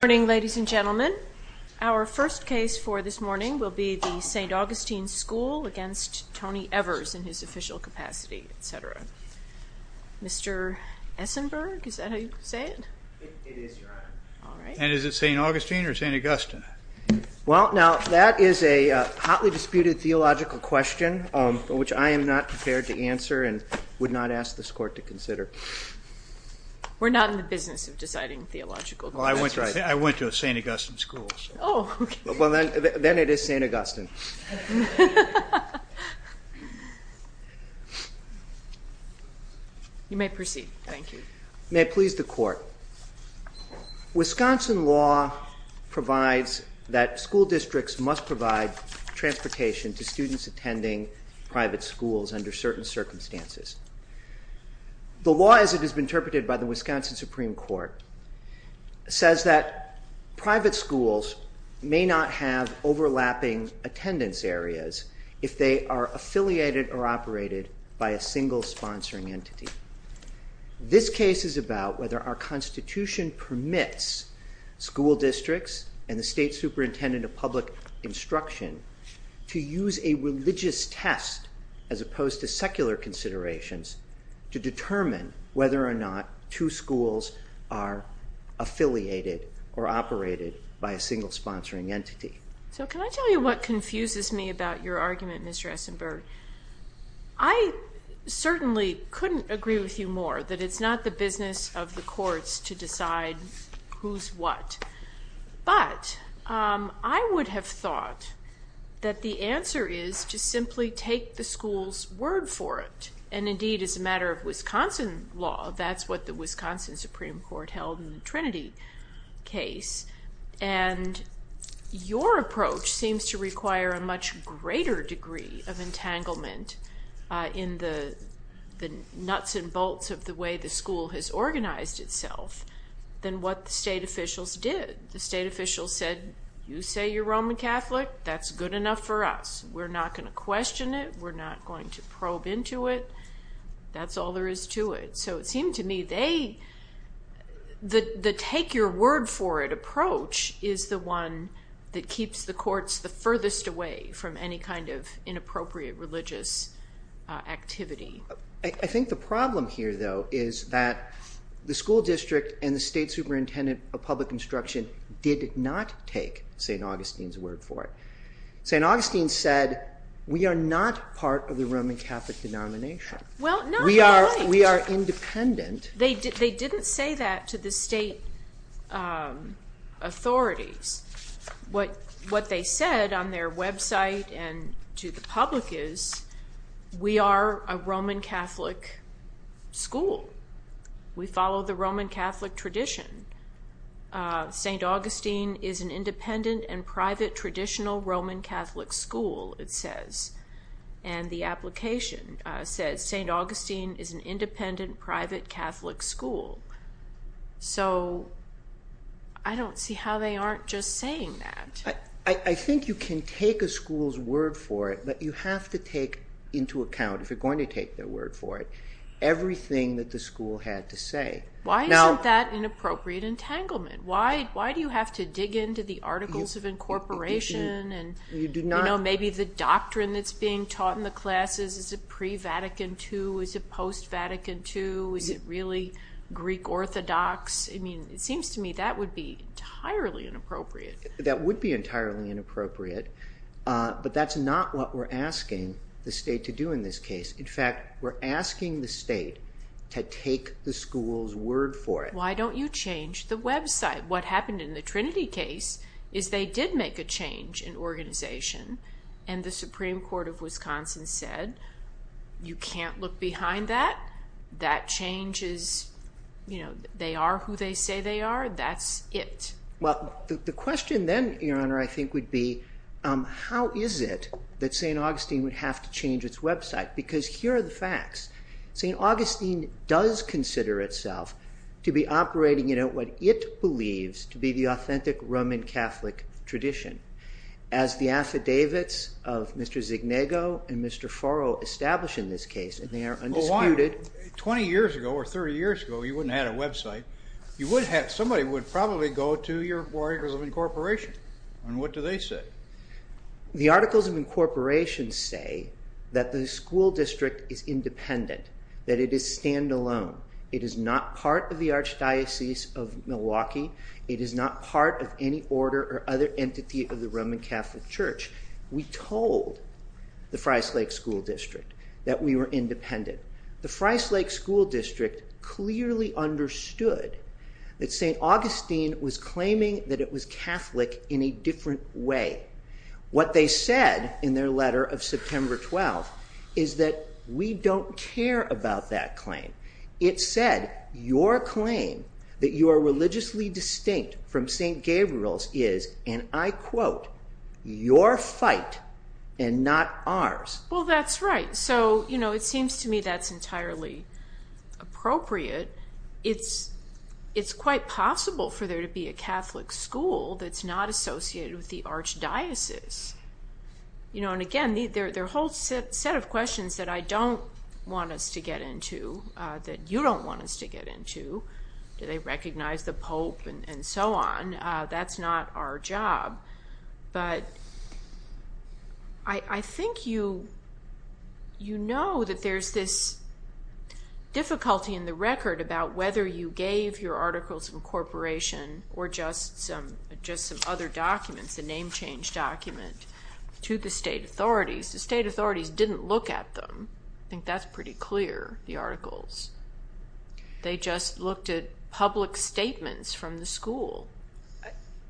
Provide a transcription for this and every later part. Good morning, ladies and gentlemen. Our first case for this morning will be the St. Augustine School v. Tony Evers in his official capacity, etc. Mr. Esenberg, is that how you say it? It is, Your Honor. All right. And is it St. Augustine or St. Augustine? Well, now, that is a hotly disputed theological question, which I am not prepared to answer and would not ask this Court to consider. We're not in the business of deciding theological questions. That's right. I went to a St. Augustine School, so. Oh, okay. Well, then it is St. Augustine. You may proceed. Thank you. May it please the Court. Wisconsin law provides that school districts must provide transportation to students attending private schools under certain circumstances. The law, as it has been interpreted by the Wisconsin Supreme Court, says that private schools may not have overlapping attendance areas if they are affiliated or operated by a single sponsoring entity. This case is about whether our Constitution permits school districts and the State Superintendent of Public Instruction to use a religious test, as opposed to secular considerations, to determine whether or not two schools are affiliated or operated by a single sponsoring entity. So can I tell you what confuses me about your argument, Mr. Esenberg? I certainly couldn't agree with you more that it's not the business of the courts to decide who's what. But I would have thought that the answer is to simply take the school's word for it. And indeed, as a matter of Wisconsin law, that's what the Wisconsin Supreme Court held in the Trinity case. And your approach seems to require a much greater degree of entanglement in the nuts and bolts of the way the school has organized itself than what the state officials did. The state officials said, you say you're Roman Catholic? That's good enough for us. We're not going to question it. We're not going to probe into it. That's all there is to it. So it seemed to me the take-your-word-for-it approach is the one that keeps the courts the furthest away from any kind of inappropriate religious activity. I think the problem here, though, is that the school district and the State Superintendent of Public Instruction did not take St. Augustine's word for it. St. Augustine said, we are not part of the Roman Catholic denomination. Well, not quite. We are independent. They didn't say that to the state authorities. What they said on their website and to the public is, we are a Roman Catholic school. We follow the Roman Catholic tradition. St. Augustine is an independent and private traditional Roman Catholic school, it says. And the application says, St. Augustine is an independent private Catholic school. So I don't see how they aren't just saying that. I think you can take a school's word for it, but you have to take into account, if you're going to take their word for it, everything that the school had to say. Why isn't that inappropriate entanglement? Why do you have to dig into the Articles of Incorporation and maybe the doctrine that's being taught in the classes? Is it pre-Vatican II? Is it post-Vatican II? Is it really Greek Orthodox? It seems to me that would be entirely inappropriate. That would be entirely inappropriate, but that's not what we're asking the state to do in this case. In fact, we're asking the state to take the school's word for it. Why don't you change the website? What happened in the Trinity case is they did make a change in organization. And the Supreme Court of Wisconsin said, you can't look behind that. That change is, you know, they are who they say they are. That's it. Well, the question then, Your Honor, I think would be, how is it that St. Augustine would have to change its website? Because here are the facts. St. Augustine does consider itself to be operating in what it believes to be the authentic Roman Catholic tradition, as the affidavits of Mr. Zegnego and Mr. Foro establish in this case, and they are undisputed. Twenty years ago or 30 years ago, you wouldn't have a website. Somebody would probably go to your Articles of Incorporation, and what do they say? The Articles of Incorporation say that the school district is independent, that it is stand-alone. It is not part of the Archdiocese of Milwaukee. It is not part of any order or other entity of the Roman Catholic Church. We told the Fry's Lake School District that we were independent. The Fry's Lake School District clearly understood that St. Augustine was claiming that it was Catholic in a different way. What they said in their letter of September 12th is that we don't care about that claim. It said, your claim that you are religiously distinct from St. Gabriel's is, and I quote, your fight and not ours. Well, that's right. It seems to me that's entirely appropriate. It's quite possible for there to be a Catholic school that's not associated with the Archdiocese. Again, there are a whole set of questions that I don't want us to get into, that you don't want us to get into. Do they recognize the Pope and so on? That's not our job. But I think you know that there's this difficulty in the record about whether you gave your articles of incorporation or just some other documents, a name change document, to the state authorities. The state authorities didn't look at them. I think that's pretty clear, the articles. They just looked at public statements from the school.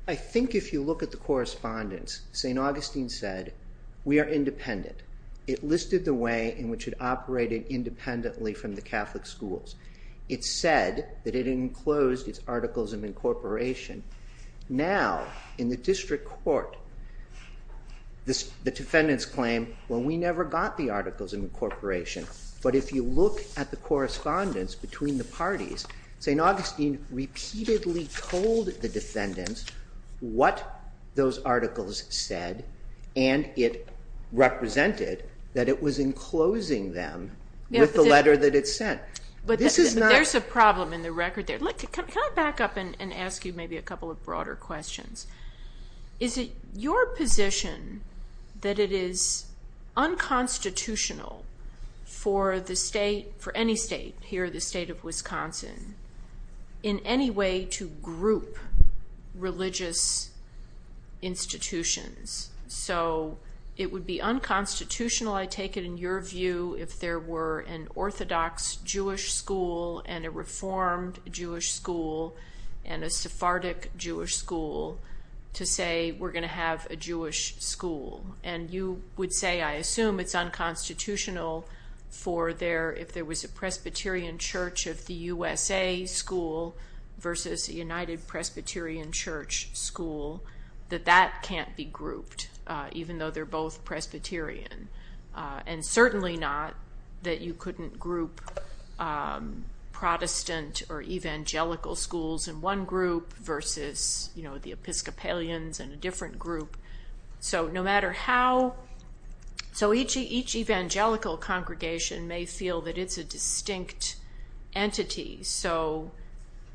I think if you look at the correspondence, St. Augustine said, we are independent. It listed the way in which it operated independently from the Catholic schools. It said that it enclosed its articles of incorporation. Now, in the district court, the defendants claim, well, we never got the articles of incorporation. But if you look at the correspondence between the parties, St. Augustine repeatedly told the defendants what those articles said and it represented that it was enclosing them with the letter that it sent. There's a problem in the record there. Can I back up and ask you maybe a couple of broader questions? Is it your position that it is unconstitutional for the state, for any state here, the state of Wisconsin, in any way to group religious institutions? So it would be unconstitutional, I take it, in your view, if there were an Orthodox Jewish school and a Reformed Jewish school and a Sephardic Jewish school to say we're going to have a Jewish school. And you would say, I assume it's unconstitutional if there was a Presbyterian Church of the USA school versus a United Presbyterian Church school, that that can't be grouped, even though they're both Presbyterian. And certainly not that you couldn't group Protestant or Evangelical schools in one group versus the Episcopalians in a different group. So each Evangelical congregation may feel that it's a distinct entity. So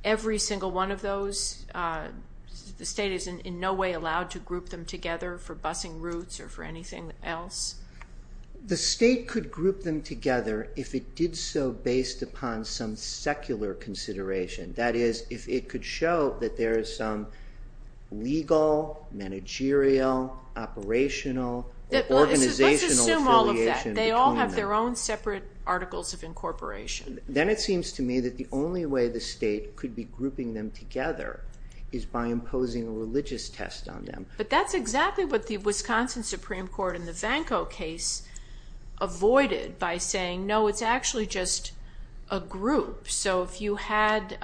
every single one of those, the state is in no way allowed to group them together for busing routes or for anything else? The state could group them together if it did so based upon some secular consideration. That is, if it could show that there is some legal, managerial, operational, organizational affiliation. Let's assume all of that. They all have their own separate articles of incorporation. Then it seems to me that the only way the state could be grouping them together is by imposing a religious test on them. But that's exactly what the Wisconsin Supreme Court in the Vanko case avoided by saying, no, it's actually just a group. So if you had,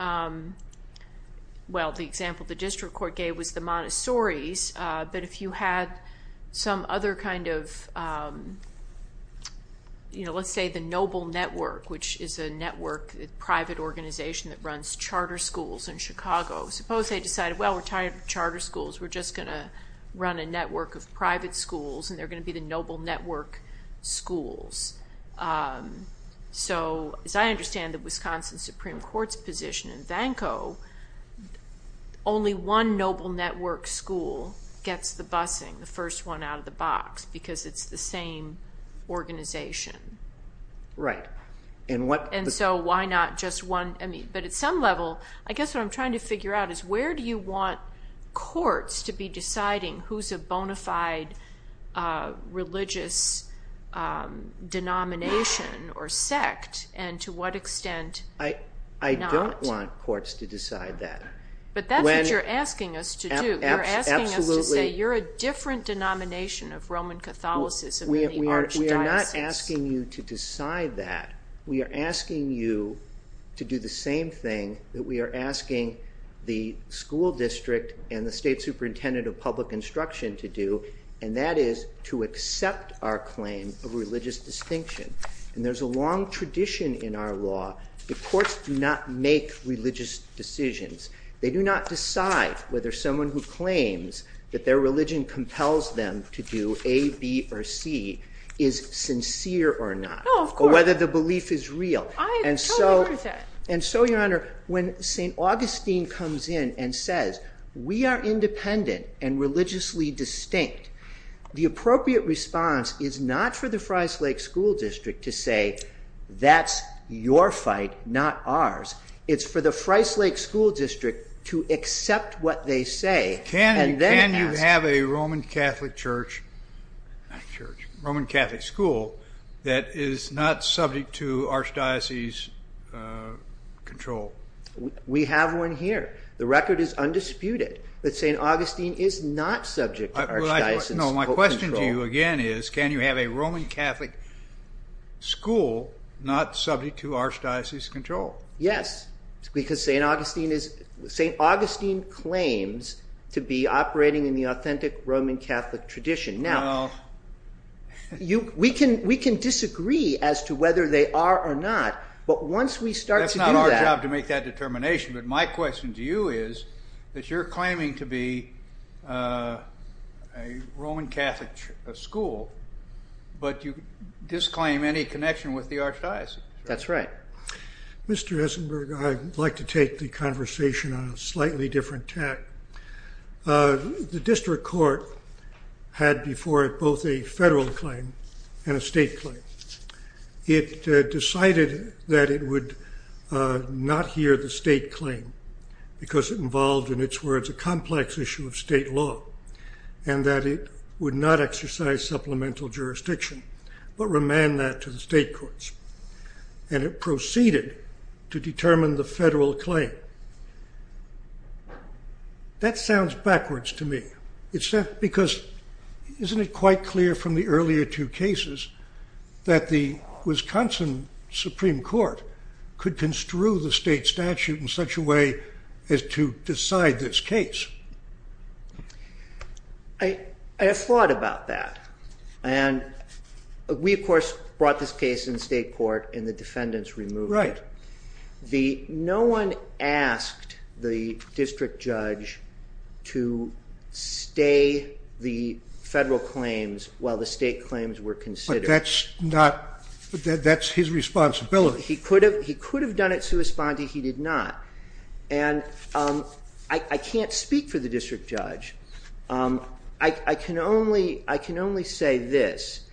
well, the example the district court gave was the Montessoris, but if you had some other kind of, let's say the Noble Network, which is a network, a private organization that runs charter schools in Chicago. Suppose they decided, well, we're tired of charter schools. We're just going to run a network of private schools, and they're going to be the Noble Network schools. So as I understand the Wisconsin Supreme Court's position in Vanko, only one Noble Network school gets the busing, the first one out of the box, because it's the same organization. Right. And so why not just one? But at some level, I guess what I'm trying to figure out is where do you want courts to be deciding who's a bona fide religious denomination or sect, and to what extent not? I don't want courts to decide that. But that's what you're asking us to do. You're asking us to say you're a different denomination of Roman Catholicism We are not asking you to decide that. We are asking you to do the same thing that we are asking the school district and the state superintendent of public instruction to do, and that is to accept our claim of religious distinction. And there's a long tradition in our law. The courts do not make religious decisions. They do not decide whether someone who claims that their religion compels them to do A, B, or C is sincere or not. No, of course. Or whether the belief is real. I totally agree with that. And so, Your Honor, when St. Augustine comes in and says, we are independent and religiously distinct, the appropriate response is not for the Fry's Lake School District to say, that's your fight, not ours. It's for the Fry's Lake School District to accept what they say and then ask. Can you have a Roman Catholic school that is not subject to Archdiocese control? We have one here. The record is undisputed that St. Augustine is not subject to Archdiocese control. No, my question to you again is, can you have a Roman Catholic school not subject to Archdiocese control? Yes, because St. Augustine claims to be operating in the authentic Roman Catholic tradition. Now, we can disagree as to whether they are or not, but once we start to do that. That's not our job to make that determination, but my question to you is that you're claiming to be a Roman Catholic school, but you disclaim any connection with the Archdiocese. That's right. Mr. Esenberg, I'd like to take the conversation on a slightly different tack. The district court had before it both a federal claim and a state claim. It decided that it would not hear the state claim, because it involved, in its words, a complex issue of state law, and that it would not exercise supplemental jurisdiction, but remand that to the state courts, and it proceeded to determine the federal claim. That sounds backwards to me. Isn't it quite clear from the earlier two cases that the Wisconsin Supreme Court could construe the state statute in such a way as to decide this case? I have thought about that, and we, of course, brought this case in state court in the defendant's removal. Right. No one asked the district judge to stay the federal claims while the state claims were considered. But that's his responsibility. He could have done it sui spondi. He did not. And I can't speak for the district judge. I can only say this.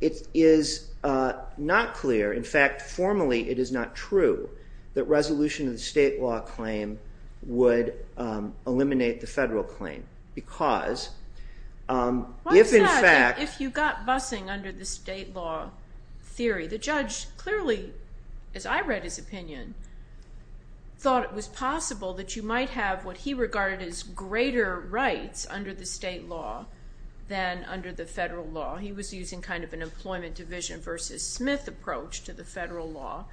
It is not clear, in fact, formally it is not true, that resolution of the state law claim would eliminate the federal claim, because if in fact- Why is that? If you got busing under the state law theory, the judge clearly, as I read his opinion, thought it was possible that you might have what he regarded as greater rights under the state law than under the federal law. He was using kind of an employment division versus Smith approach to the federal law.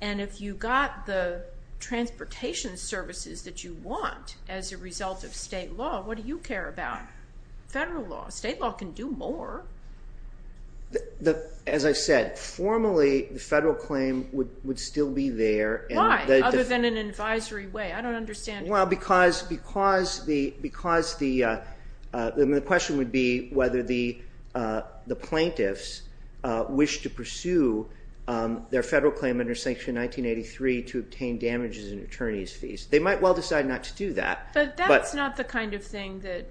And if you got the transportation services that you want as a result of state law, what do you care about? Federal law. State law can do more. As I said, formally the federal claim would still be there. Why? Other than an advisory way. I don't understand. Well, because the question would be whether the plaintiffs wish to pursue their federal claim under Sanction 1983 to obtain damages and attorney's fees. They might well decide not to do that. But that's not the kind of thing that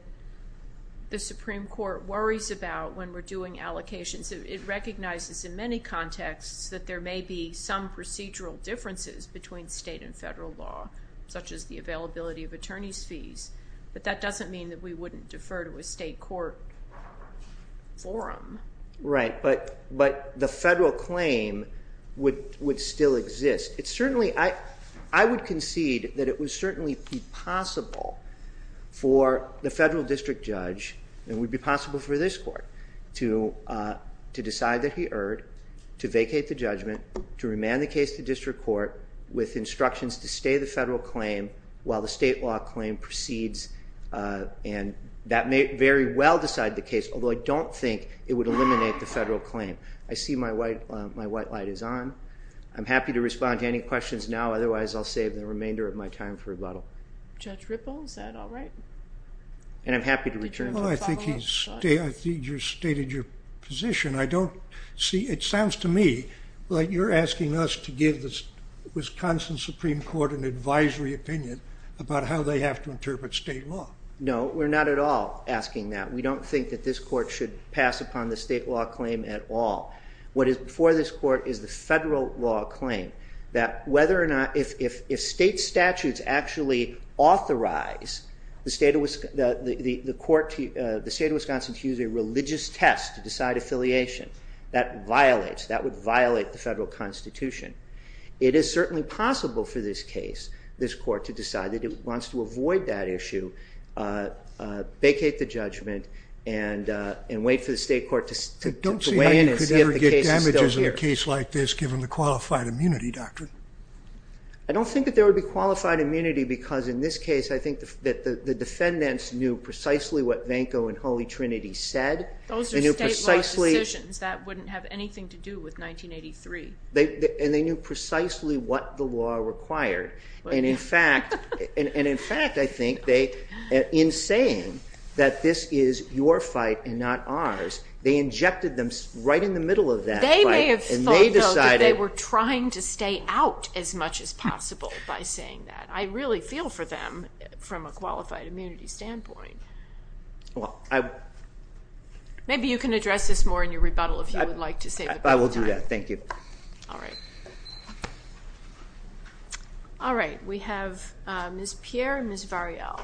the Supreme Court worries about when we're doing allocations. It recognizes in many contexts that there may be some procedural differences between state and federal law, such as the availability of attorney's fees. But that doesn't mean that we wouldn't defer to a state court forum. Right. But the federal claim would still exist. I would concede that it would certainly be possible for the federal district judge, and it would be possible for this court, to decide that he erred, to vacate the judgment, to remand the case to district court with instructions to stay the federal claim while the state law claim proceeds. And that may very well decide the case, although I don't think it would eliminate the federal claim. I see my white light is on. I'm happy to respond to any questions now. Otherwise, I'll save the remainder of my time for rebuttal. Judge Ripple, is that all right? And I'm happy to return to the follow-up. Well, I think you stated your position. It sounds to me like you're asking us to give the Wisconsin Supreme Court an advisory opinion about how they have to interpret state law. No, we're not at all asking that. We don't think that this court should pass upon the state law claim at all. What is before this court is the federal law claim, that if state statutes actually authorize the state of Wisconsin to use a religious test to decide affiliation, that violates, that would violate the federal constitution. It is certainly possible for this case, this court, to decide that it wants to avoid that issue, vacate the judgment, and wait for the state court to weigh in and see if the case is still here. I don't think that there would be qualified immunity, because in this case I think that the defendants knew precisely what Vanco and Holy Trinity said. Those are state-wide decisions. That wouldn't have anything to do with 1983. And they knew precisely what the law required. And in fact, I think, in saying that this is your fight and not ours, they injected them right in the middle of that fight. They may have thought, though, that they were trying to stay out as much as possible by saying that. I really feel for them from a qualified immunity standpoint. Maybe you can address this more in your rebuttal, if you would like to save a bit of time. I will do that. Thank you. All right. We have Ms. Pierre and Ms. Variel.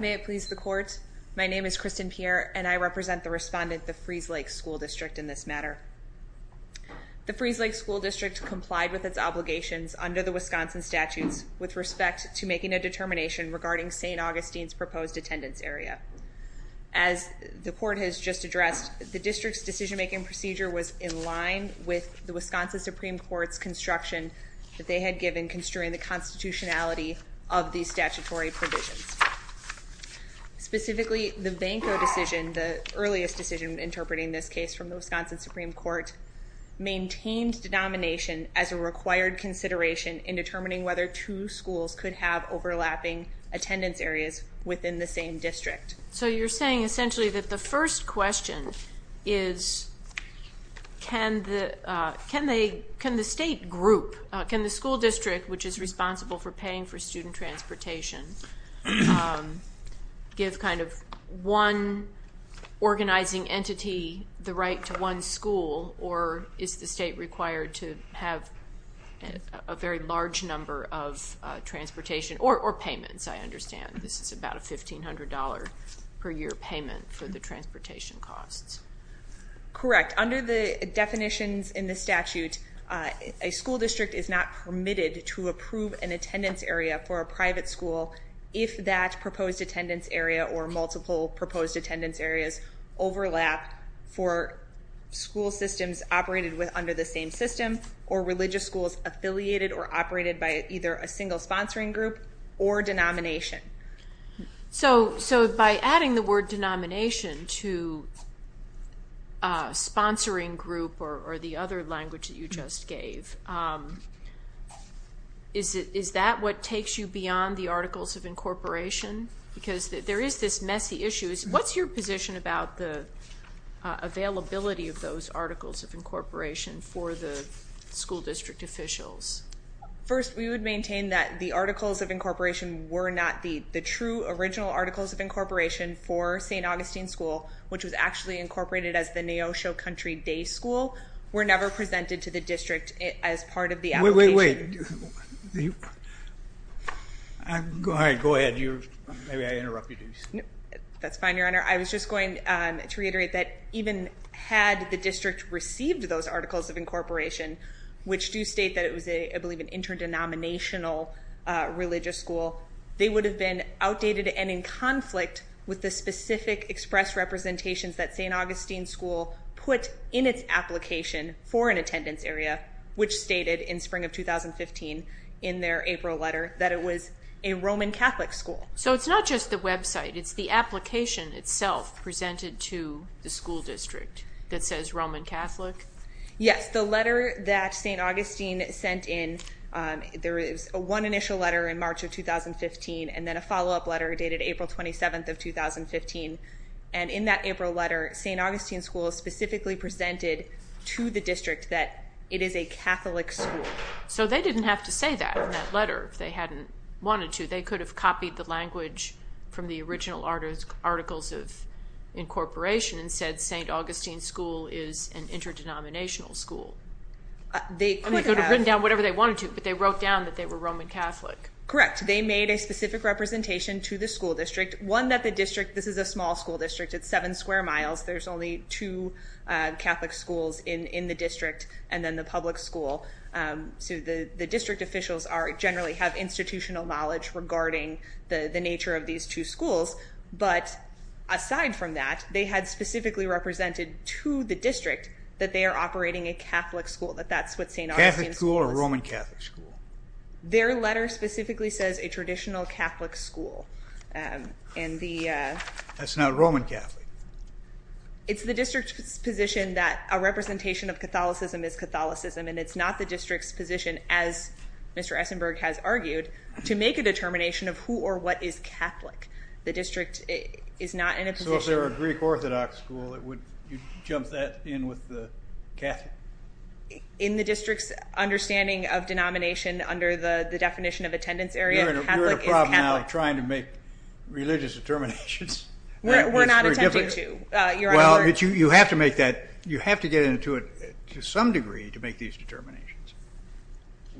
May it please the court. My name is Kristen Pierre, and I represent the respondent, the Freeze Lake School District, in this matter. The Freeze Lake School District complied with its obligations under the Wisconsin statutes with respect to making a determination regarding St. Augustine's proposed attendance area. As the court has just addressed, the district's decision-making procedure was in line with the Wisconsin Supreme Court's construction that they had given in construing the constitutionality of these statutory provisions. Specifically, the Vanko decision, the earliest decision in interpreting this case from the Wisconsin Supreme Court, maintained denomination as a required consideration in determining whether two schools could have overlapping attendance areas within the same district. So you're saying, essentially, that the first question is, can the state group, can the school district, which is responsible for paying for student transportation, give kind of one organizing entity the right to one school, or is the state required to have a very large number of transportation, or payments, I understand. This is about a $1,500 per year payment for the transportation costs. Correct. Under the definitions in the statute, a school district is not permitted to approve an attendance area for a private school if that proposed attendance area or multiple proposed attendance areas overlap for school systems operated under the same system, or religious schools affiliated or operated by either a single sponsoring group or denomination. So by adding the word denomination to sponsoring group or the other language that you just gave, is that what takes you beyond the articles of incorporation? Because there is this messy issue. What's your position about the availability of those articles of incorporation for the school district officials? First, we would maintain that the articles of incorporation were not the true original articles of incorporation for St. Augustine School, which was actually incorporated as the Neosho Country Day School, were never presented to the district as part of the application. Wait, wait, wait. Go ahead. Maybe I interrupted you. That's fine, Your Honor. I was just going to reiterate that even had the district received those articles of incorporation, which do state that it was, I believe, an interdenominational religious school, they would have been outdated and in conflict with the specific express representations that St. Augustine School put in its application for an attendance area, which stated in spring of 2015 in their April letter that it was a Roman Catholic school. So it's not just the website. It's the application itself presented to the school district that says Roman Catholic? Yes. The letter that St. Augustine sent in, there is one initial letter in March of 2015 and then a follow-up letter dated April 27th of 2015. And in that April letter, St. Augustine School specifically presented to the district that it is a Catholic school. So they didn't have to say that in that letter if they hadn't wanted to. They could have copied the language from the original articles of incorporation and said St. Augustine School is an interdenominational school. They could have written down whatever they wanted to, but they wrote down that they were Roman Catholic. Correct. They made a specific representation to the school district. One, that the district, this is a small school district. It's seven square miles. There's only two Catholic schools in the district and then the public school. So the district officials generally have institutional knowledge regarding the nature of these two schools. But aside from that, they had specifically represented to the district that they are operating a Catholic school, that that's what St. Augustine School is. Catholic school or Roman Catholic school? Their letter specifically says a traditional Catholic school. That's not Roman Catholic. It's the district's position that a representation of Catholicism is Catholicism and it's not the district's position, as Mr. Essenberg has argued, to make a determination of who or what is Catholic. The district is not in a position... So if there were a Greek Orthodox school, you'd jump that in with the Catholic? In the district's understanding of denomination under the definition of attendance area, Catholic is Catholic. You're in a problem now of trying to make religious determinations. We're not attempting to, Your Honor. Well, you have to make that, you have to get into it to some degree to make these determinations.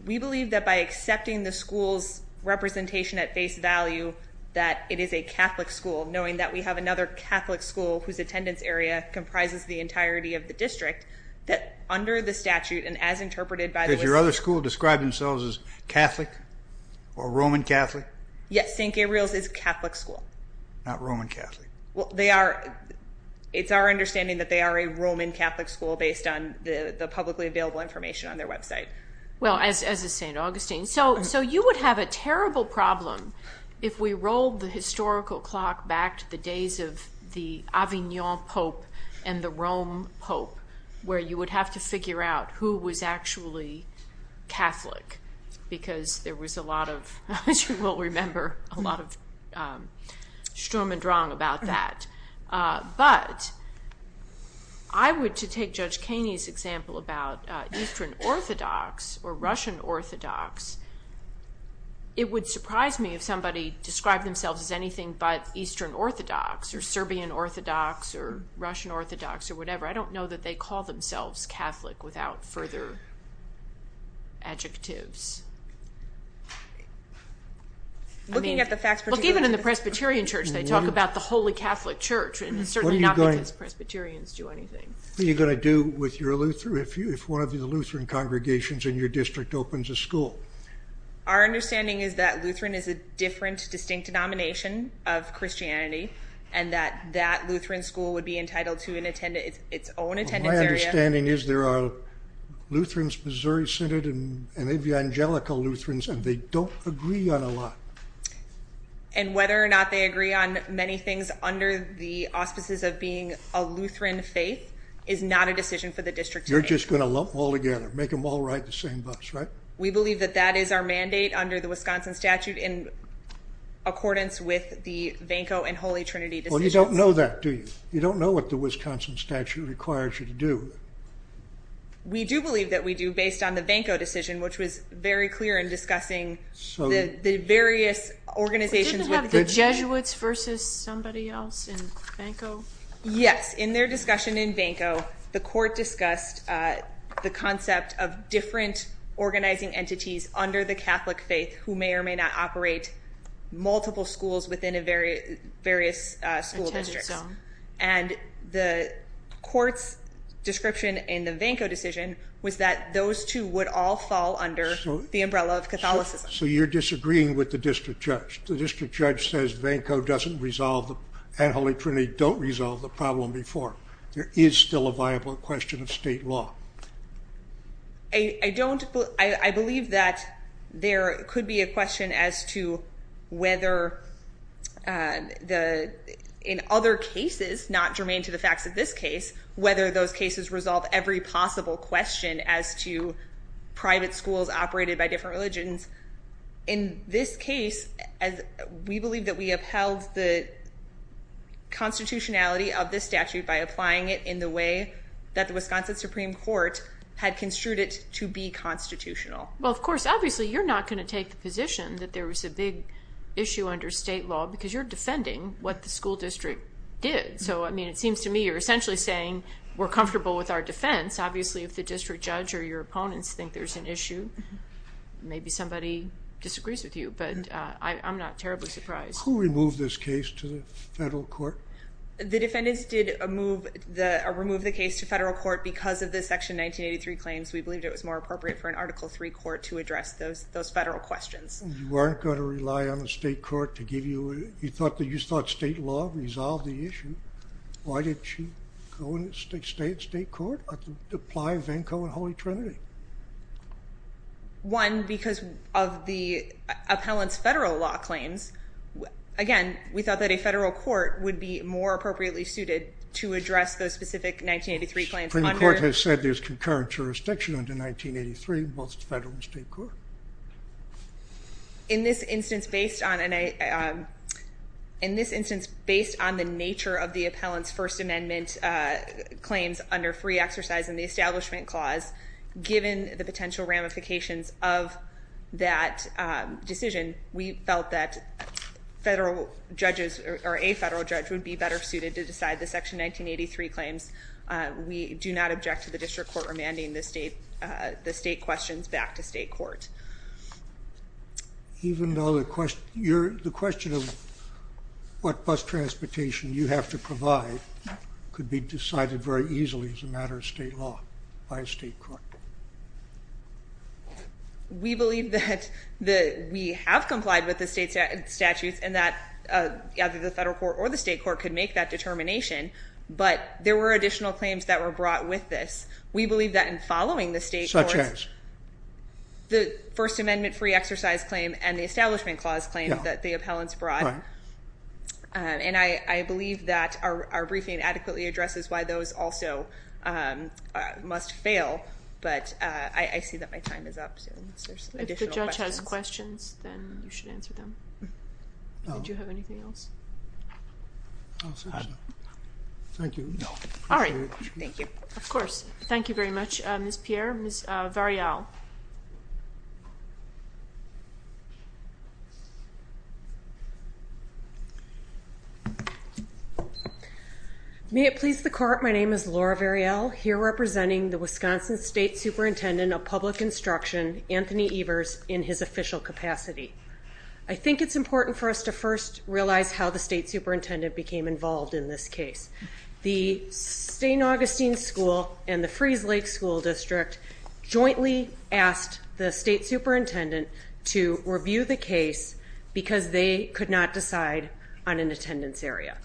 We believe that by accepting the school's representation at face value that it is a Catholic school, knowing that we have another Catholic school whose attendance area comprises the entirety of the district, that under the statute and as interpreted by the... Does your other school describe themselves as Catholic? Or Roman Catholic? Yes, St. Gabriel's is Catholic school. Not Roman Catholic. Well, they are... It's our understanding that they are a Roman Catholic school based on the publicly available information on their website. Well, as is St. Augustine. So you would have a terrible problem if we rolled the historical clock back to the days of the Avignon Pope and the Rome Pope where you would have to figure out who was actually Catholic because there was a lot of, as you will remember, a lot of schturm und drang about that. But I would, to take Judge Kaney's example about Eastern Orthodox or Russian Orthodox, it would surprise me if somebody described themselves as anything but Eastern Orthodox or Serbian Orthodox or Russian Orthodox or whatever. I don't know that they call themselves Catholic without further adjectives. Looking at the facts... Look, even in the Presbyterian Church, they talk about the Holy Catholic Church and it's certainly not because Presbyterians do anything. What are you going to do with your Lutheran, if one of your Lutheran congregations in your district opens a school? Our understanding is that Lutheran is a different, distinct denomination of Christianity and that that Lutheran school would be entitled to its own attendance area. My understanding is there are Lutherans, Missouri-centered and Evangelical Lutherans and they don't agree on a lot. And whether or not they agree on many things under the auspices of being a Lutheran faith is not a decision for the district to make. You're just going to lump them all together, make them all ride the same bus, right? We believe that that is our mandate under the Wisconsin statute in accordance with the Vanco and Holy Trinity decisions. Well, you don't know that, do you? You don't know what the Wisconsin statute requires you to do. We do believe that we do, based on the Vanco decision, which was very clear in discussing the various organizations... Didn't it have the Jesuits versus somebody else in Vanco? Yes, in their discussion in Vanco, the court discussed the concept of different organizing entities under the Catholic faith who may or may not operate multiple schools within various school districts. And the court's description in the Vanco decision was that those two would all fall under the umbrella of Catholicism. So you're disagreeing with the district judge. The district judge says Vanco doesn't resolve them and Holy Trinity don't resolve the problem before. There is still a viable question of state law. I don't... I believe that there could be a question as to whether the... In other cases, not germane to the facts of this case, whether those cases resolve every possible question as to private schools operated by different religions. In this case, we believe that we upheld the constitutionality of this statute by applying it in the way that the Wisconsin Supreme Court had construed it to be constitutional. Well, of course, obviously, you're not going to take the position that there was a big issue under state law because you're defending what the school district did. So, I mean, it seems to me you're essentially saying we're comfortable with our defense. Obviously, if the district judge or your opponents think there's an issue, maybe somebody disagrees with you. But I'm not terribly surprised. Who removed this case to the federal court? The defendants did remove the case to federal court because of the Section 1983 claims. We believed it was more appropriate for an Article III court to address those federal questions. You weren't going to rely on the state court to give you... You thought state law resolved the issue. Why didn't you go and stay in state court or apply Venko and Holy Trinity? One, because of the appellant's federal law claims. Again, we thought that a federal court would be more appropriately suited to address those specific 1983 claims. Supreme Court has said there's concurrent jurisdiction under 1983, both federal and state court. In this instance, based on... In this instance, based on the nature of the appellant's First Amendment claims under free exercise in the Establishment Clause, given the potential ramifications of that decision, we felt that federal judges or a federal judge would be better suited to decide the Section 1983 claims. We do not object to the district court remanding the state questions back to state court. Even though the question of what bus transportation you have to provide could be decided very easily as a matter of state law by a state court. We believe that we have complied with the state statutes and that either the federal court or the state court could make that determination, but there were additional claims that were brought with this. We believe that in following the state courts... Such as? The First Amendment free exercise claim and the Establishment Clause claim that the appellants brought. And I believe that our briefing adequately addresses why those also must fail, but I see that my time is up. If the judge has questions, then you should answer them. Did you have anything else? No. Thank you. All right. Thank you. Of course. Thank you very much, Ms. Pierre. Ms. Variel. May it please the court, my name is Laura Variel, here representing the Wisconsin State Superintendent of Public Instruction, Anthony Evers, in his official capacity. I think it's important for us to first realize how the state superintendent became involved in this case. The St. Augustine School and the Freeze Lake School District jointly, together, asked the state superintendent to review the case because they could not decide on an attendance area.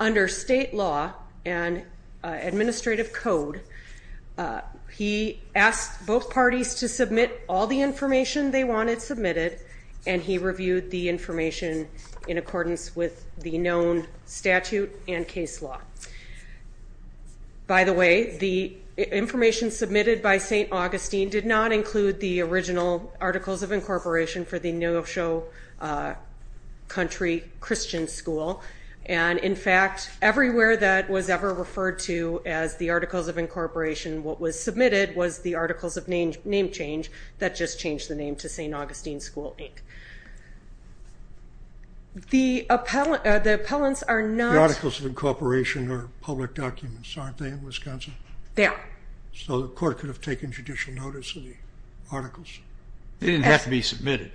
Under state law and administrative code, he asked both parties to submit all the information they wanted submitted, and he reviewed the information in accordance with the known statute and case law. By the way, the information submitted by St. Augustine did not include the original articles of incorporation for the Neosho Country Christian School, and in fact, everywhere that was ever referred to as the articles of incorporation, what was submitted was the articles of name change that just changed the name to St. Augustine School, Inc. The appellants are not... The articles of incorporation are public documents, aren't they, in Wisconsin? They are. So the court could have taken judicial notice of the articles. They didn't have to be submitted.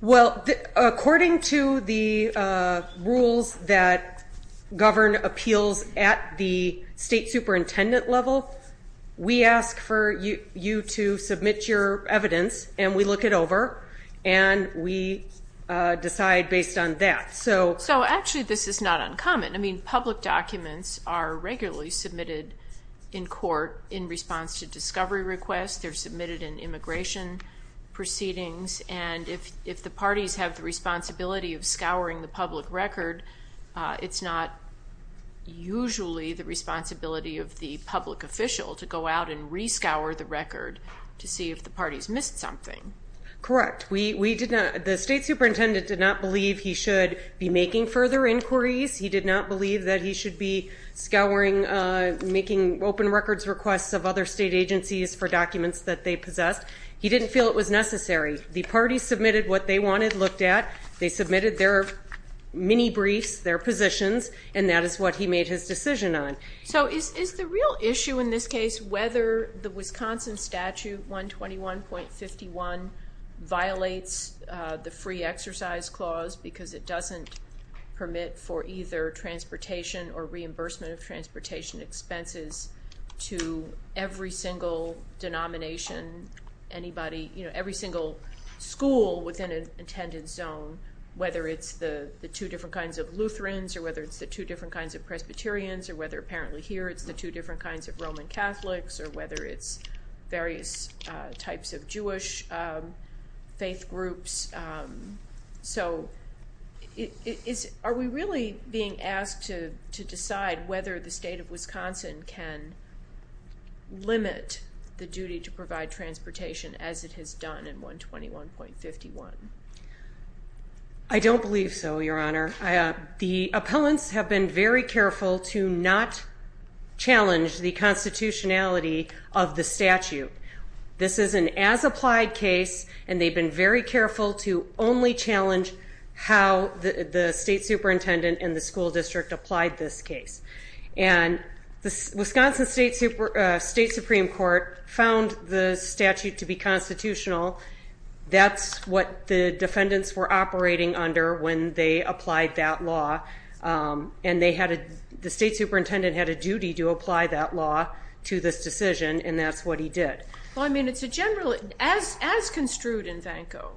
Well, according to the rules that govern appeals at the state superintendent level, we ask for you to submit your evidence, and we look it over, and we decide based on that. So actually this is not uncommon. I mean, public documents are regularly submitted in court in response to discovery requests. They're submitted in immigration proceedings, and if the parties have the responsibility of scouring the public record, it's not usually the responsibility of the public official to go out and re-scour the record to see if the parties missed something. Correct. The state superintendent did not believe he should be making further inquiries. He did not believe that he should be scouring, making open records requests of other state agencies for documents that they possessed. He didn't feel it was necessary. The parties submitted what they wanted looked at. They submitted their mini-briefs, their positions, and that is what he made his decision on. So is the real issue in this case whether the Wisconsin Statute 121.51 violates the free exercise clause because it doesn't permit for either transportation or reimbursement of transportation expenses to every single denomination, every single school within an intended zone, whether it's the two different kinds of Lutherans or whether it's the two different kinds of Presbyterians or whether apparently here it's the two different kinds of Roman Catholics or whether it's various types of Jewish faith groups. So are we really being asked to decide whether the state of Wisconsin can limit the duty to provide transportation as it has done in 121.51? I don't believe so, Your Honor. The appellants have been very careful to not challenge the constitutionality of the statute. This is an as-applied case, and they've been very careful to only challenge how the state superintendent and the school district applied this case. And the Wisconsin State Supreme Court found the statute to be constitutional. That's what the defendants were operating under when they applied that law, and the state superintendent had a duty to apply that law to this decision, and that's what he did. Well, I mean, it's a generally... As construed in Vanco,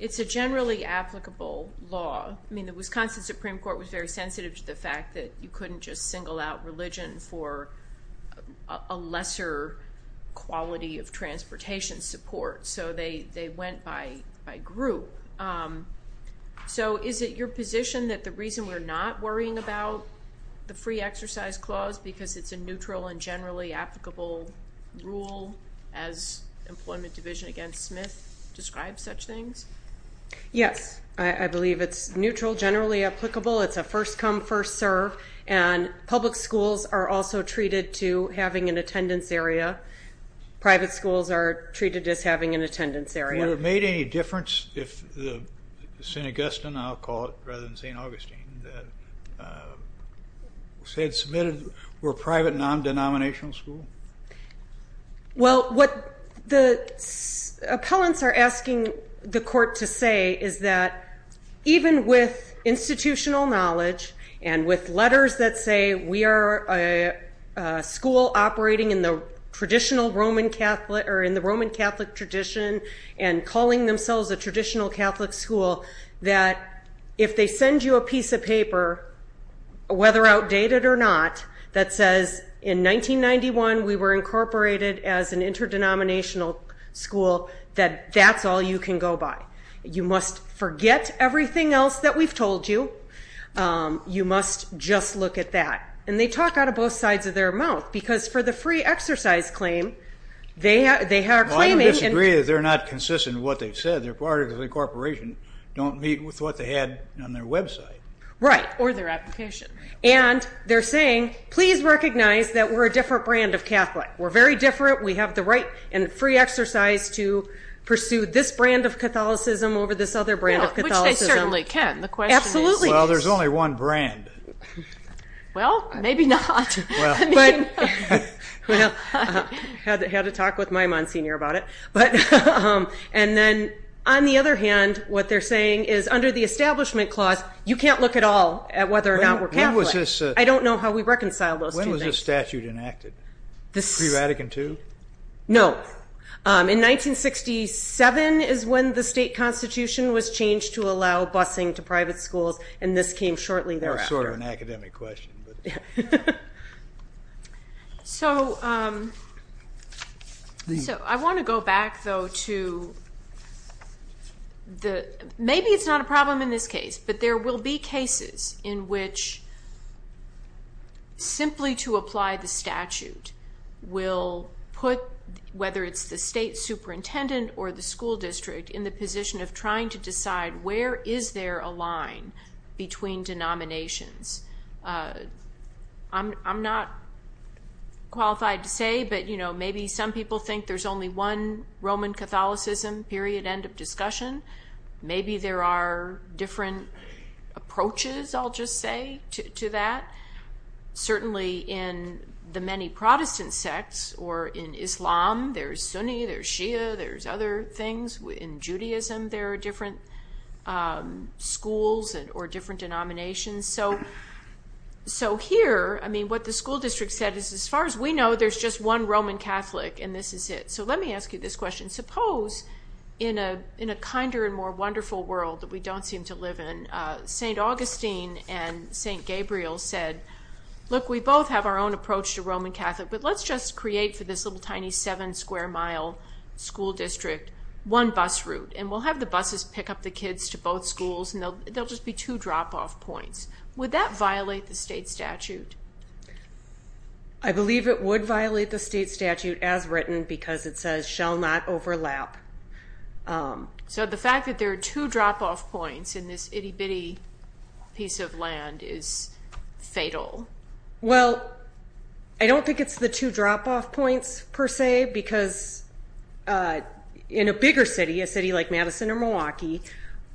it's a generally applicable law. I mean, the Wisconsin Supreme Court was very sensitive to the fact that you couldn't just single out religion for a lesser quality of transportation support, so they went by group. So is it your position that the reason we're not worrying about the free exercise clause because it's a neutral and generally applicable rule as Employment Division against Smith describes such things? Yes, I believe it's neutral, generally applicable. It's a first-come, first-serve, and public schools are also treated to having an attendance area. Private schools are treated as having an attendance area. Would it have made any difference if the St. Augustine, I'll call it, rather than St. Augustine, that was submitted were a private, non-denominational school? Well, what the appellants are asking the court to say is that even with institutional knowledge and with letters that say we are a school operating in the traditional Roman Catholic... or in the Roman Catholic tradition and calling themselves a traditional Catholic school, that if they send you a piece of paper, whether outdated or not, that says in 1991 we were incorporated as an interdenominational school, that that's all you can go by. You must forget everything else that we've told you. You must just look at that. And they talk out of both sides of their mouth because for the free exercise claim, they are claiming... Well, I would disagree that they're not consistent in what they've said. They're part of the incorporation. Don't meet with what they had on their website. Right. Or their application. And they're saying, please recognize that we're a different brand of Catholic. We're very different. We have the right and free exercise to pursue this brand of Catholicism over this other brand of Catholicism. Which they certainly can. The question is... Absolutely. Well, there's only one brand. Well, maybe not. Well, had to talk with Maimon Senior about it. And then on the other hand, what they're saying is under the Establishment Clause, you can't look at all at whether or not we're Catholic. I don't know how we reconcile those two things. When was this statute enacted? Pre-Vatican II? No. In 1967 is when the state constitution was changed to allow busing to private schools, and this came shortly thereafter. Sort of an academic question. So I want to go back, though, to... Maybe it's not a problem in this case, but there will be cases in which simply to apply the statute will put whether it's the state superintendent or the school district in the position of trying to decide where is there a line between denominations. I'm not qualified to say, but, you know, maybe some people think there's only one Roman Catholicism, period, end of discussion. Maybe there are different approaches, I'll just say, to that. Certainly in the many Protestant sects or in Islam, there's Sunni, there's Shia, there's other things. In Judaism, there are different schools or different denominations. So here, I mean, what the school district said is, as far as we know, there's just one Roman Catholic and this is it. So let me ask you this question. Suppose in a kinder and more wonderful world that we don't seem to live in, St. Augustine and St. Gabriel said, look, we both have our own approach to Roman Catholic, but let's just create for this little tiny seven-square-mile school district one bus route, and we'll have the buses pick up the kids to both schools, and there will just be two drop-off points. Would that violate the state statute? I believe it would violate the state statute as written, because it says, shall not overlap. So the fact that there are two drop-off points in this itty-bitty piece of land is fatal. Well, I don't think it's the two drop-off points, per se, because in a bigger city, a city like Madison or Milwaukee,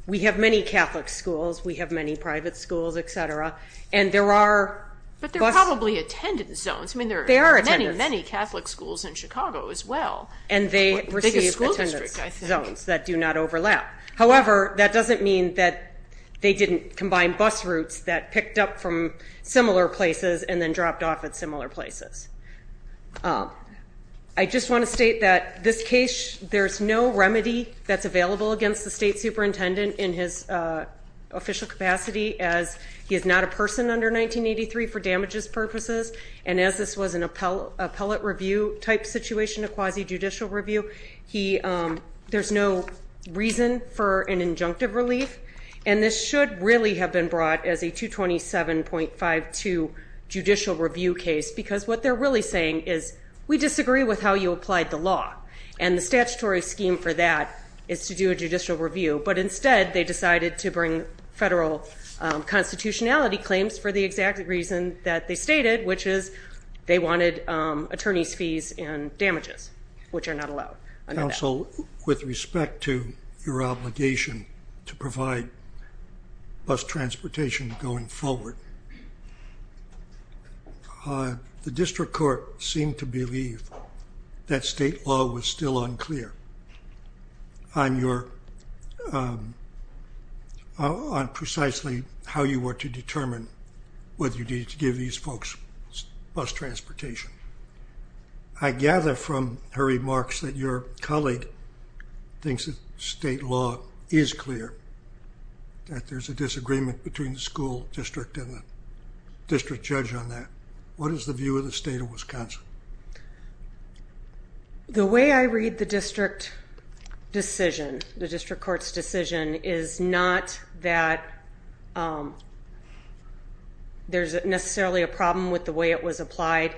we have many Catholic schools, we have many private schools, et cetera, and there are bus... But they're probably attendance zones. They are attendance. I mean, there are many, many Catholic schools in Chicago as well. And they receive attendance zones that do not overlap. However, that doesn't mean that they didn't combine bus routes that picked up from similar places and then dropped off at similar places. I just want to state that this case, there's no remedy that's available against the state superintendent in his official capacity, as he is not a person under 1983 for damages purposes, and as this was an appellate review-type situation, a quasi-judicial review, there's no reason for an injunctive relief. And this should really have been brought as a 227.52 judicial review case, because what they're really saying is, we disagree with how you applied the law. And the statutory scheme for that is to do a judicial review. But instead, they decided to bring federal constitutionality claims for the exact reason that they stated, which is they wanted attorney's fees and damages, which are not allowed. Counsel, with respect to your obligation to provide bus transportation going forward, the district court seemed to believe that state law was still unclear on precisely how you were to determine whether you needed to give these folks bus transportation. I gather from her remarks that your colleague thinks that state law is clear, that there's a disagreement between the school district and the district judge on that. What is the view of the state of Wisconsin? The way I read the district decision, the district court's decision, is not that there's necessarily a problem with the way it was applied.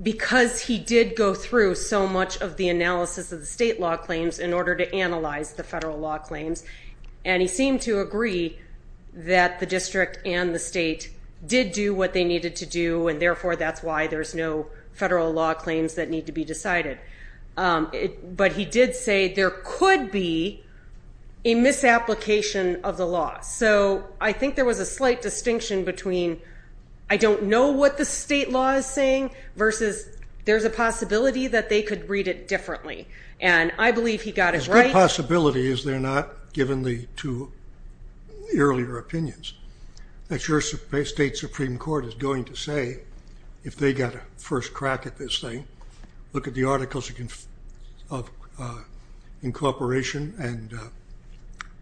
Because he did go through so much of the analysis of the state law claims in order to analyze the federal law claims. And he seemed to agree that the district and the state did do what they needed to do, and therefore that's why there's no federal law claims that need to be decided. But he did say there could be a misapplication of the law. So I think there was a slight distinction between I don't know what the state law is saying versus there's a possibility that they could read it differently. And I believe he got it right. As good a possibility as they're not, given the two earlier opinions, that your state Supreme Court is going to say, if they got a first crack at this thing, look at the articles of incorporation and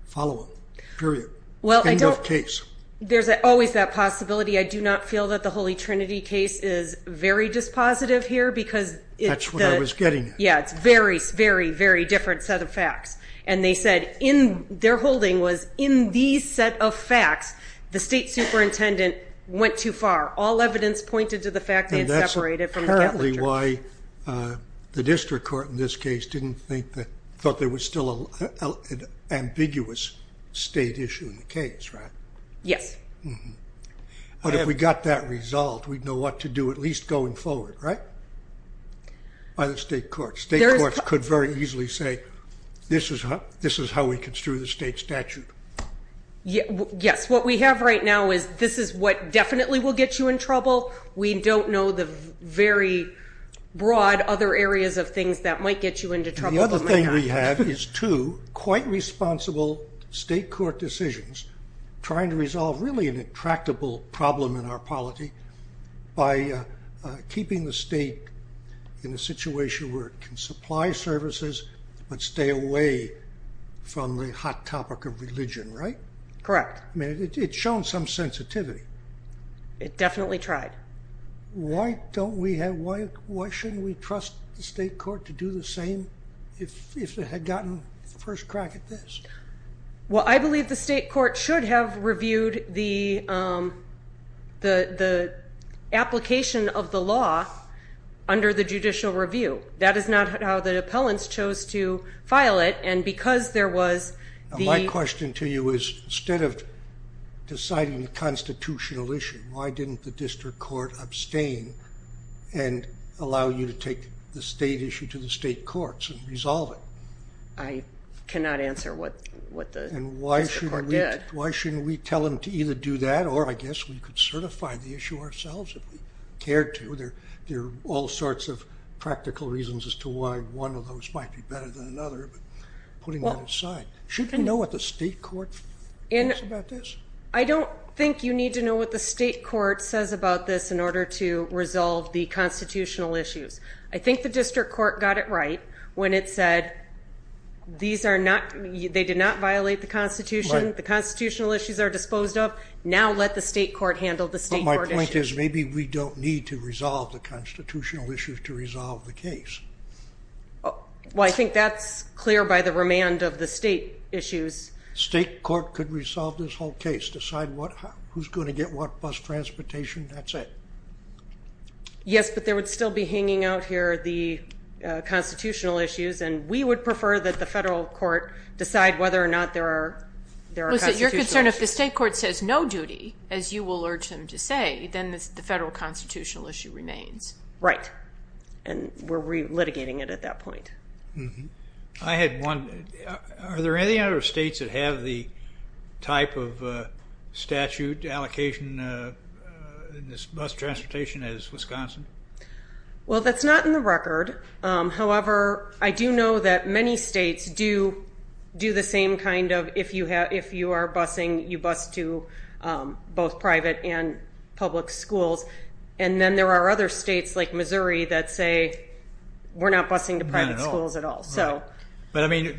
follow them, period. End of case. There's always that possibility. I do not feel that the Holy Trinity case is very dispositive here because it's the... That's what I was getting at. Yeah, it's a very, very, very different set of facts. And they said their holding was in these set of facts, the state superintendent went too far. All evidence pointed to the fact they had separated from the Catholic Church. And that's apparently why the district court in this case thought there was still an ambiguous state issue in the case, right? Yes. But if we got that resolved, we'd know what to do, at least going forward, right? By the state courts. State courts could very easily say, this is how we construe the state statute. Yes. What we have right now is this is what definitely will get you in trouble. We don't know the very broad other areas of things that might get you into trouble. The other thing we have is two quite responsible state court decisions trying to resolve really an intractable problem in our polity by keeping the state in a situation where it can supply services but stay away from the hot topic of religion, right? Correct. It's shown some sensitivity. It definitely tried. Why shouldn't we trust the state court to do the same if it had gotten the first crack at this? Well, I believe the state court should have reviewed the application of the law under the judicial review. That is not how the appellants chose to file it, and because there was the – My question to you is, instead of deciding the constitutional issue, why didn't the district court abstain and allow you to take the state issue to the state courts and resolve it? I cannot answer what the district court did. And why shouldn't we tell them to either do that or I guess we could certify the issue ourselves if we cared to. There are all sorts of practical reasons as to why one of those might be better than another, but putting that aside. Shouldn't we know what the state court thinks about this? I don't think you need to know what the state court says about this in order to resolve the constitutional issues. I think the district court got it right when it said these are not – they did not violate the Constitution. The constitutional issues are disposed of. Now let the state court handle the state court issues. But my point is maybe we don't need to resolve the constitutional issues to resolve the case. Well, I think that's clear by the remand of the state issues. State court could resolve this whole case, decide who's going to get what, bus transportation, that's it. Yes, but there would still be hanging out here the constitutional issues, and we would prefer that the federal court decide whether or not there are constitutional issues. Lisa, you're concerned if the state court says no duty, as you will urge them to say, then the federal constitutional issue remains. Right. And we're re-litigating it at that point. I had one. Are there any other states that have the type of statute allocation in this bus transportation as Wisconsin? Well, that's not in the record. However, I do know that many states do the same kind of – if you are busing, you bus to both private and public schools. And then there are other states like Missouri that say we're not busing to private schools at all. But, I mean,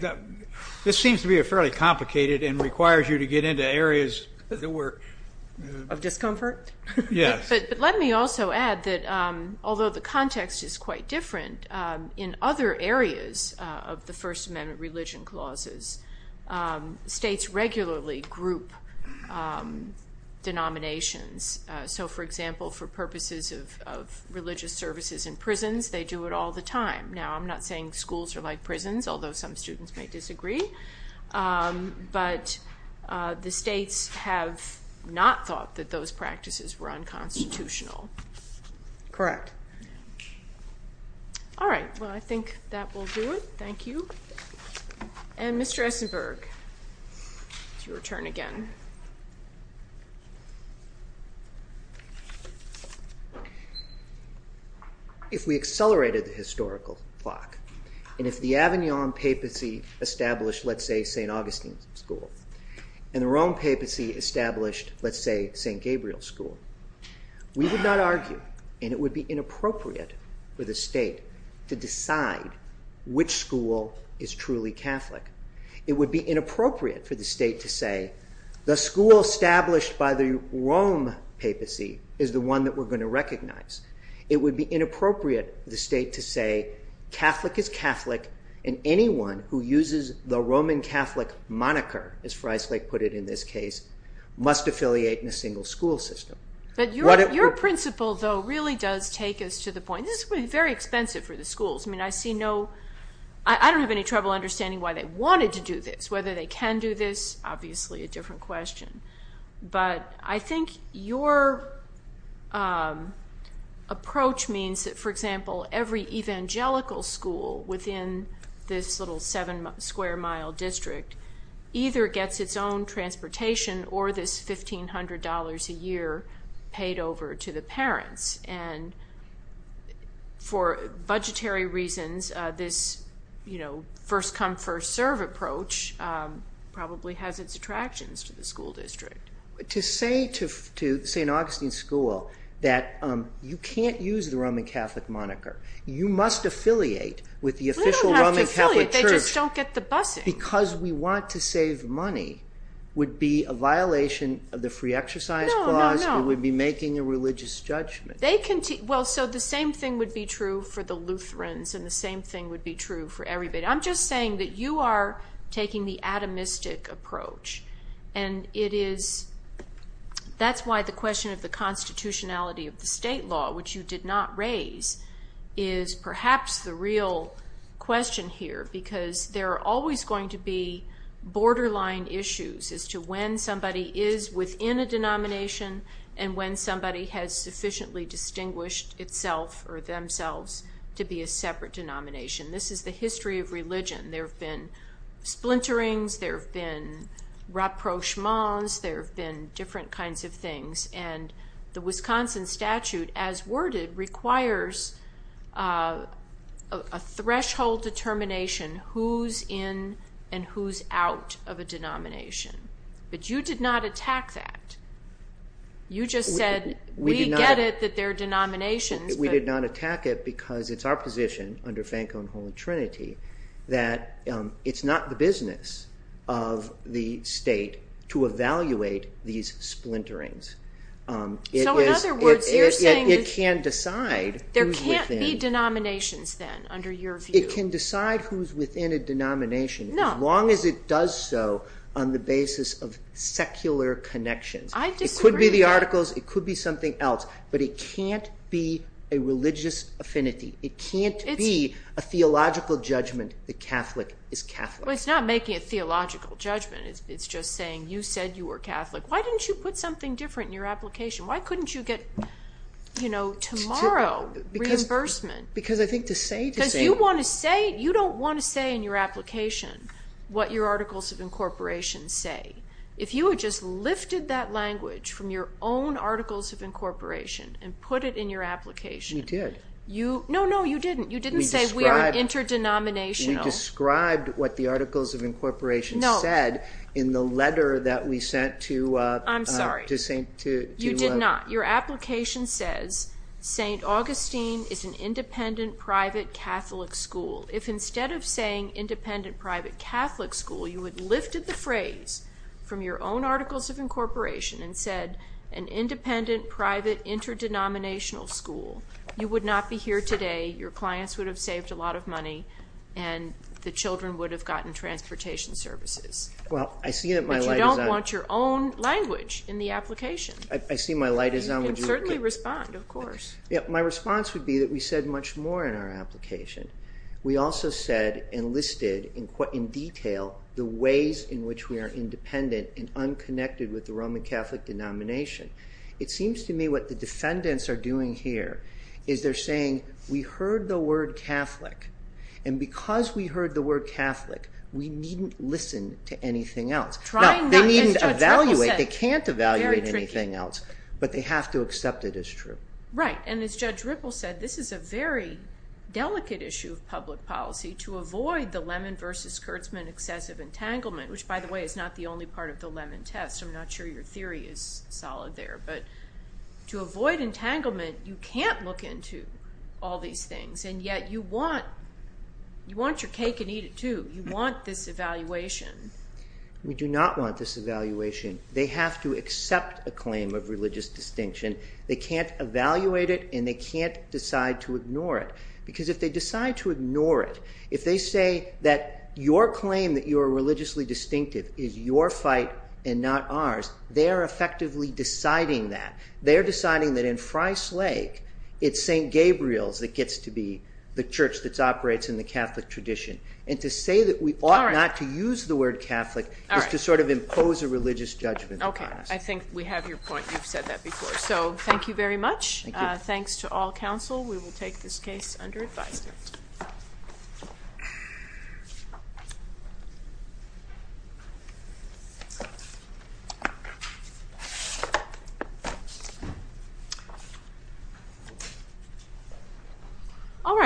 this seems to be a fairly complicated and requires you to get into areas that were – Of discomfort? Yes. But let me also add that, although the context is quite different, in other areas of the First Amendment religion clauses, states regularly group denominations. So, for example, for purposes of religious services in prisons, they do it all the time. Now, I'm not saying schools are like prisons, although some students may disagree. But the states have not thought that those practices were unconstitutional. Correct. All right. Well, I think that will do it. Thank you. And Mr. Esenberg, it's your turn again. If we accelerated the historical clock and if the Avignon Papacy established, let's say, St. Augustine's School and the Rome Papacy established, let's say, St. Gabriel's School, we would not argue, and it would be inappropriate for the state to decide which school is truly Catholic. It would be inappropriate for the state to say the school established by the Rome Papacy is the one that we're going to recognize. It would be inappropriate for the state to say Catholic is Catholic and anyone who uses the Roman Catholic moniker, as Freislich put it in this case, must affiliate in a single school system. But your principle, though, really does take us to the point. This is very expensive for the schools. I mean, I see no... I don't have any trouble understanding why they wanted to do this. Whether they can do this, obviously a different question. But I think your approach means that, for example, every evangelical school within this little seven-square-mile district either gets its own transportation or this $1,500 a year paid over to the parents. And for budgetary reasons, this first-come, first-serve approach probably has its attractions to the school district. To say to St. Augustine School that you can't use the Roman Catholic moniker, you must affiliate with the official Roman Catholic church... They don't have to affiliate. They just don't get the busing. ...because we want to save money would be a violation of the free exercise clause. No, no, no. We would be making a religious judgment. Well, so the same thing would be true for the Lutherans and the same thing would be true for everybody. I'm just saying that you are taking the atomistic approach, and that's why the question of the constitutionality of the state law, which you did not raise, is perhaps the real question here because there are always going to be borderline issues as to when somebody is within a denomination and when somebody has sufficiently distinguished itself or themselves to be a separate denomination. This is the history of religion. There have been splinterings. There have been rapprochements. There have been different kinds of things, and the Wisconsin statute, as worded, requires a threshold determination who's in and who's out of a denomination, but you did not attack that. You just said, we get it that there are denominations, but... that it's not the business of the state to evaluate these splinterings. So in other words, you're saying that there can't be denominations then, under your view. It can decide who's within a denomination as long as it does so on the basis of secular connections. It could be the articles. It could be something else, but it can't be a religious affinity. It can't be a theological judgment that Catholic is Catholic. Well, it's not making a theological judgment. It's just saying you said you were Catholic. Why didn't you put something different in your application? Why couldn't you get, you know, tomorrow reimbursement? Because I think to say... Because you want to say... You don't want to say in your application what your articles of incorporation say. If you had just lifted that language from your own articles of incorporation and put it in your application... You did. No, no, you didn't. You didn't say we are interdenominational. You described what the articles of incorporation said in the letter that we sent to... I'm sorry. To... You did not. Your application says, St. Augustine is an independent private Catholic school. If instead of saying independent private Catholic school, you had lifted the phrase from your own articles of incorporation and said an independent private interdenominational school, you would not be here today, your clients would have saved a lot of money, and the children would have gotten transportation services. Well, I see that my light is on. But you don't want your own language in the application. I see my light is on. You can certainly respond, of course. My response would be that we said much more in our application. We also said and listed in detail the ways in which we are independent and unconnected with the Roman Catholic denomination. It seems to me what the defendants are doing here is they're saying we heard the word Catholic, and because we heard the word Catholic, we needn't listen to anything else. Now, they needn't evaluate. They can't evaluate anything else, but they have to accept it as true. Right, and as Judge Ripple said, this is a very delicate issue of public policy to avoid the Lemon v. Kurtzman excessive entanglement, which, by the way, is not the only part of the Lemon test. I'm not sure your theory is solid there. But to avoid entanglement, you can't look into all these things, and yet you want your cake and eat it too. You want this evaluation. We do not want this evaluation. They have to accept a claim of religious distinction. They can't evaluate it, and they can't decide to ignore it because if they decide to ignore it, if they say that your claim that you are religiously distinctive is your fight and not ours, they're effectively deciding that. They're deciding that in Frye's Lake, it's St. Gabriel's that gets to be the church that operates in the Catholic tradition. And to say that we ought not to use the word Catholic is to sort of impose a religious judgment on us. Okay, I think we have your point. You've said that before, so thank you very much. Thanks to all counsel. We will take this case under advisement. Thank you.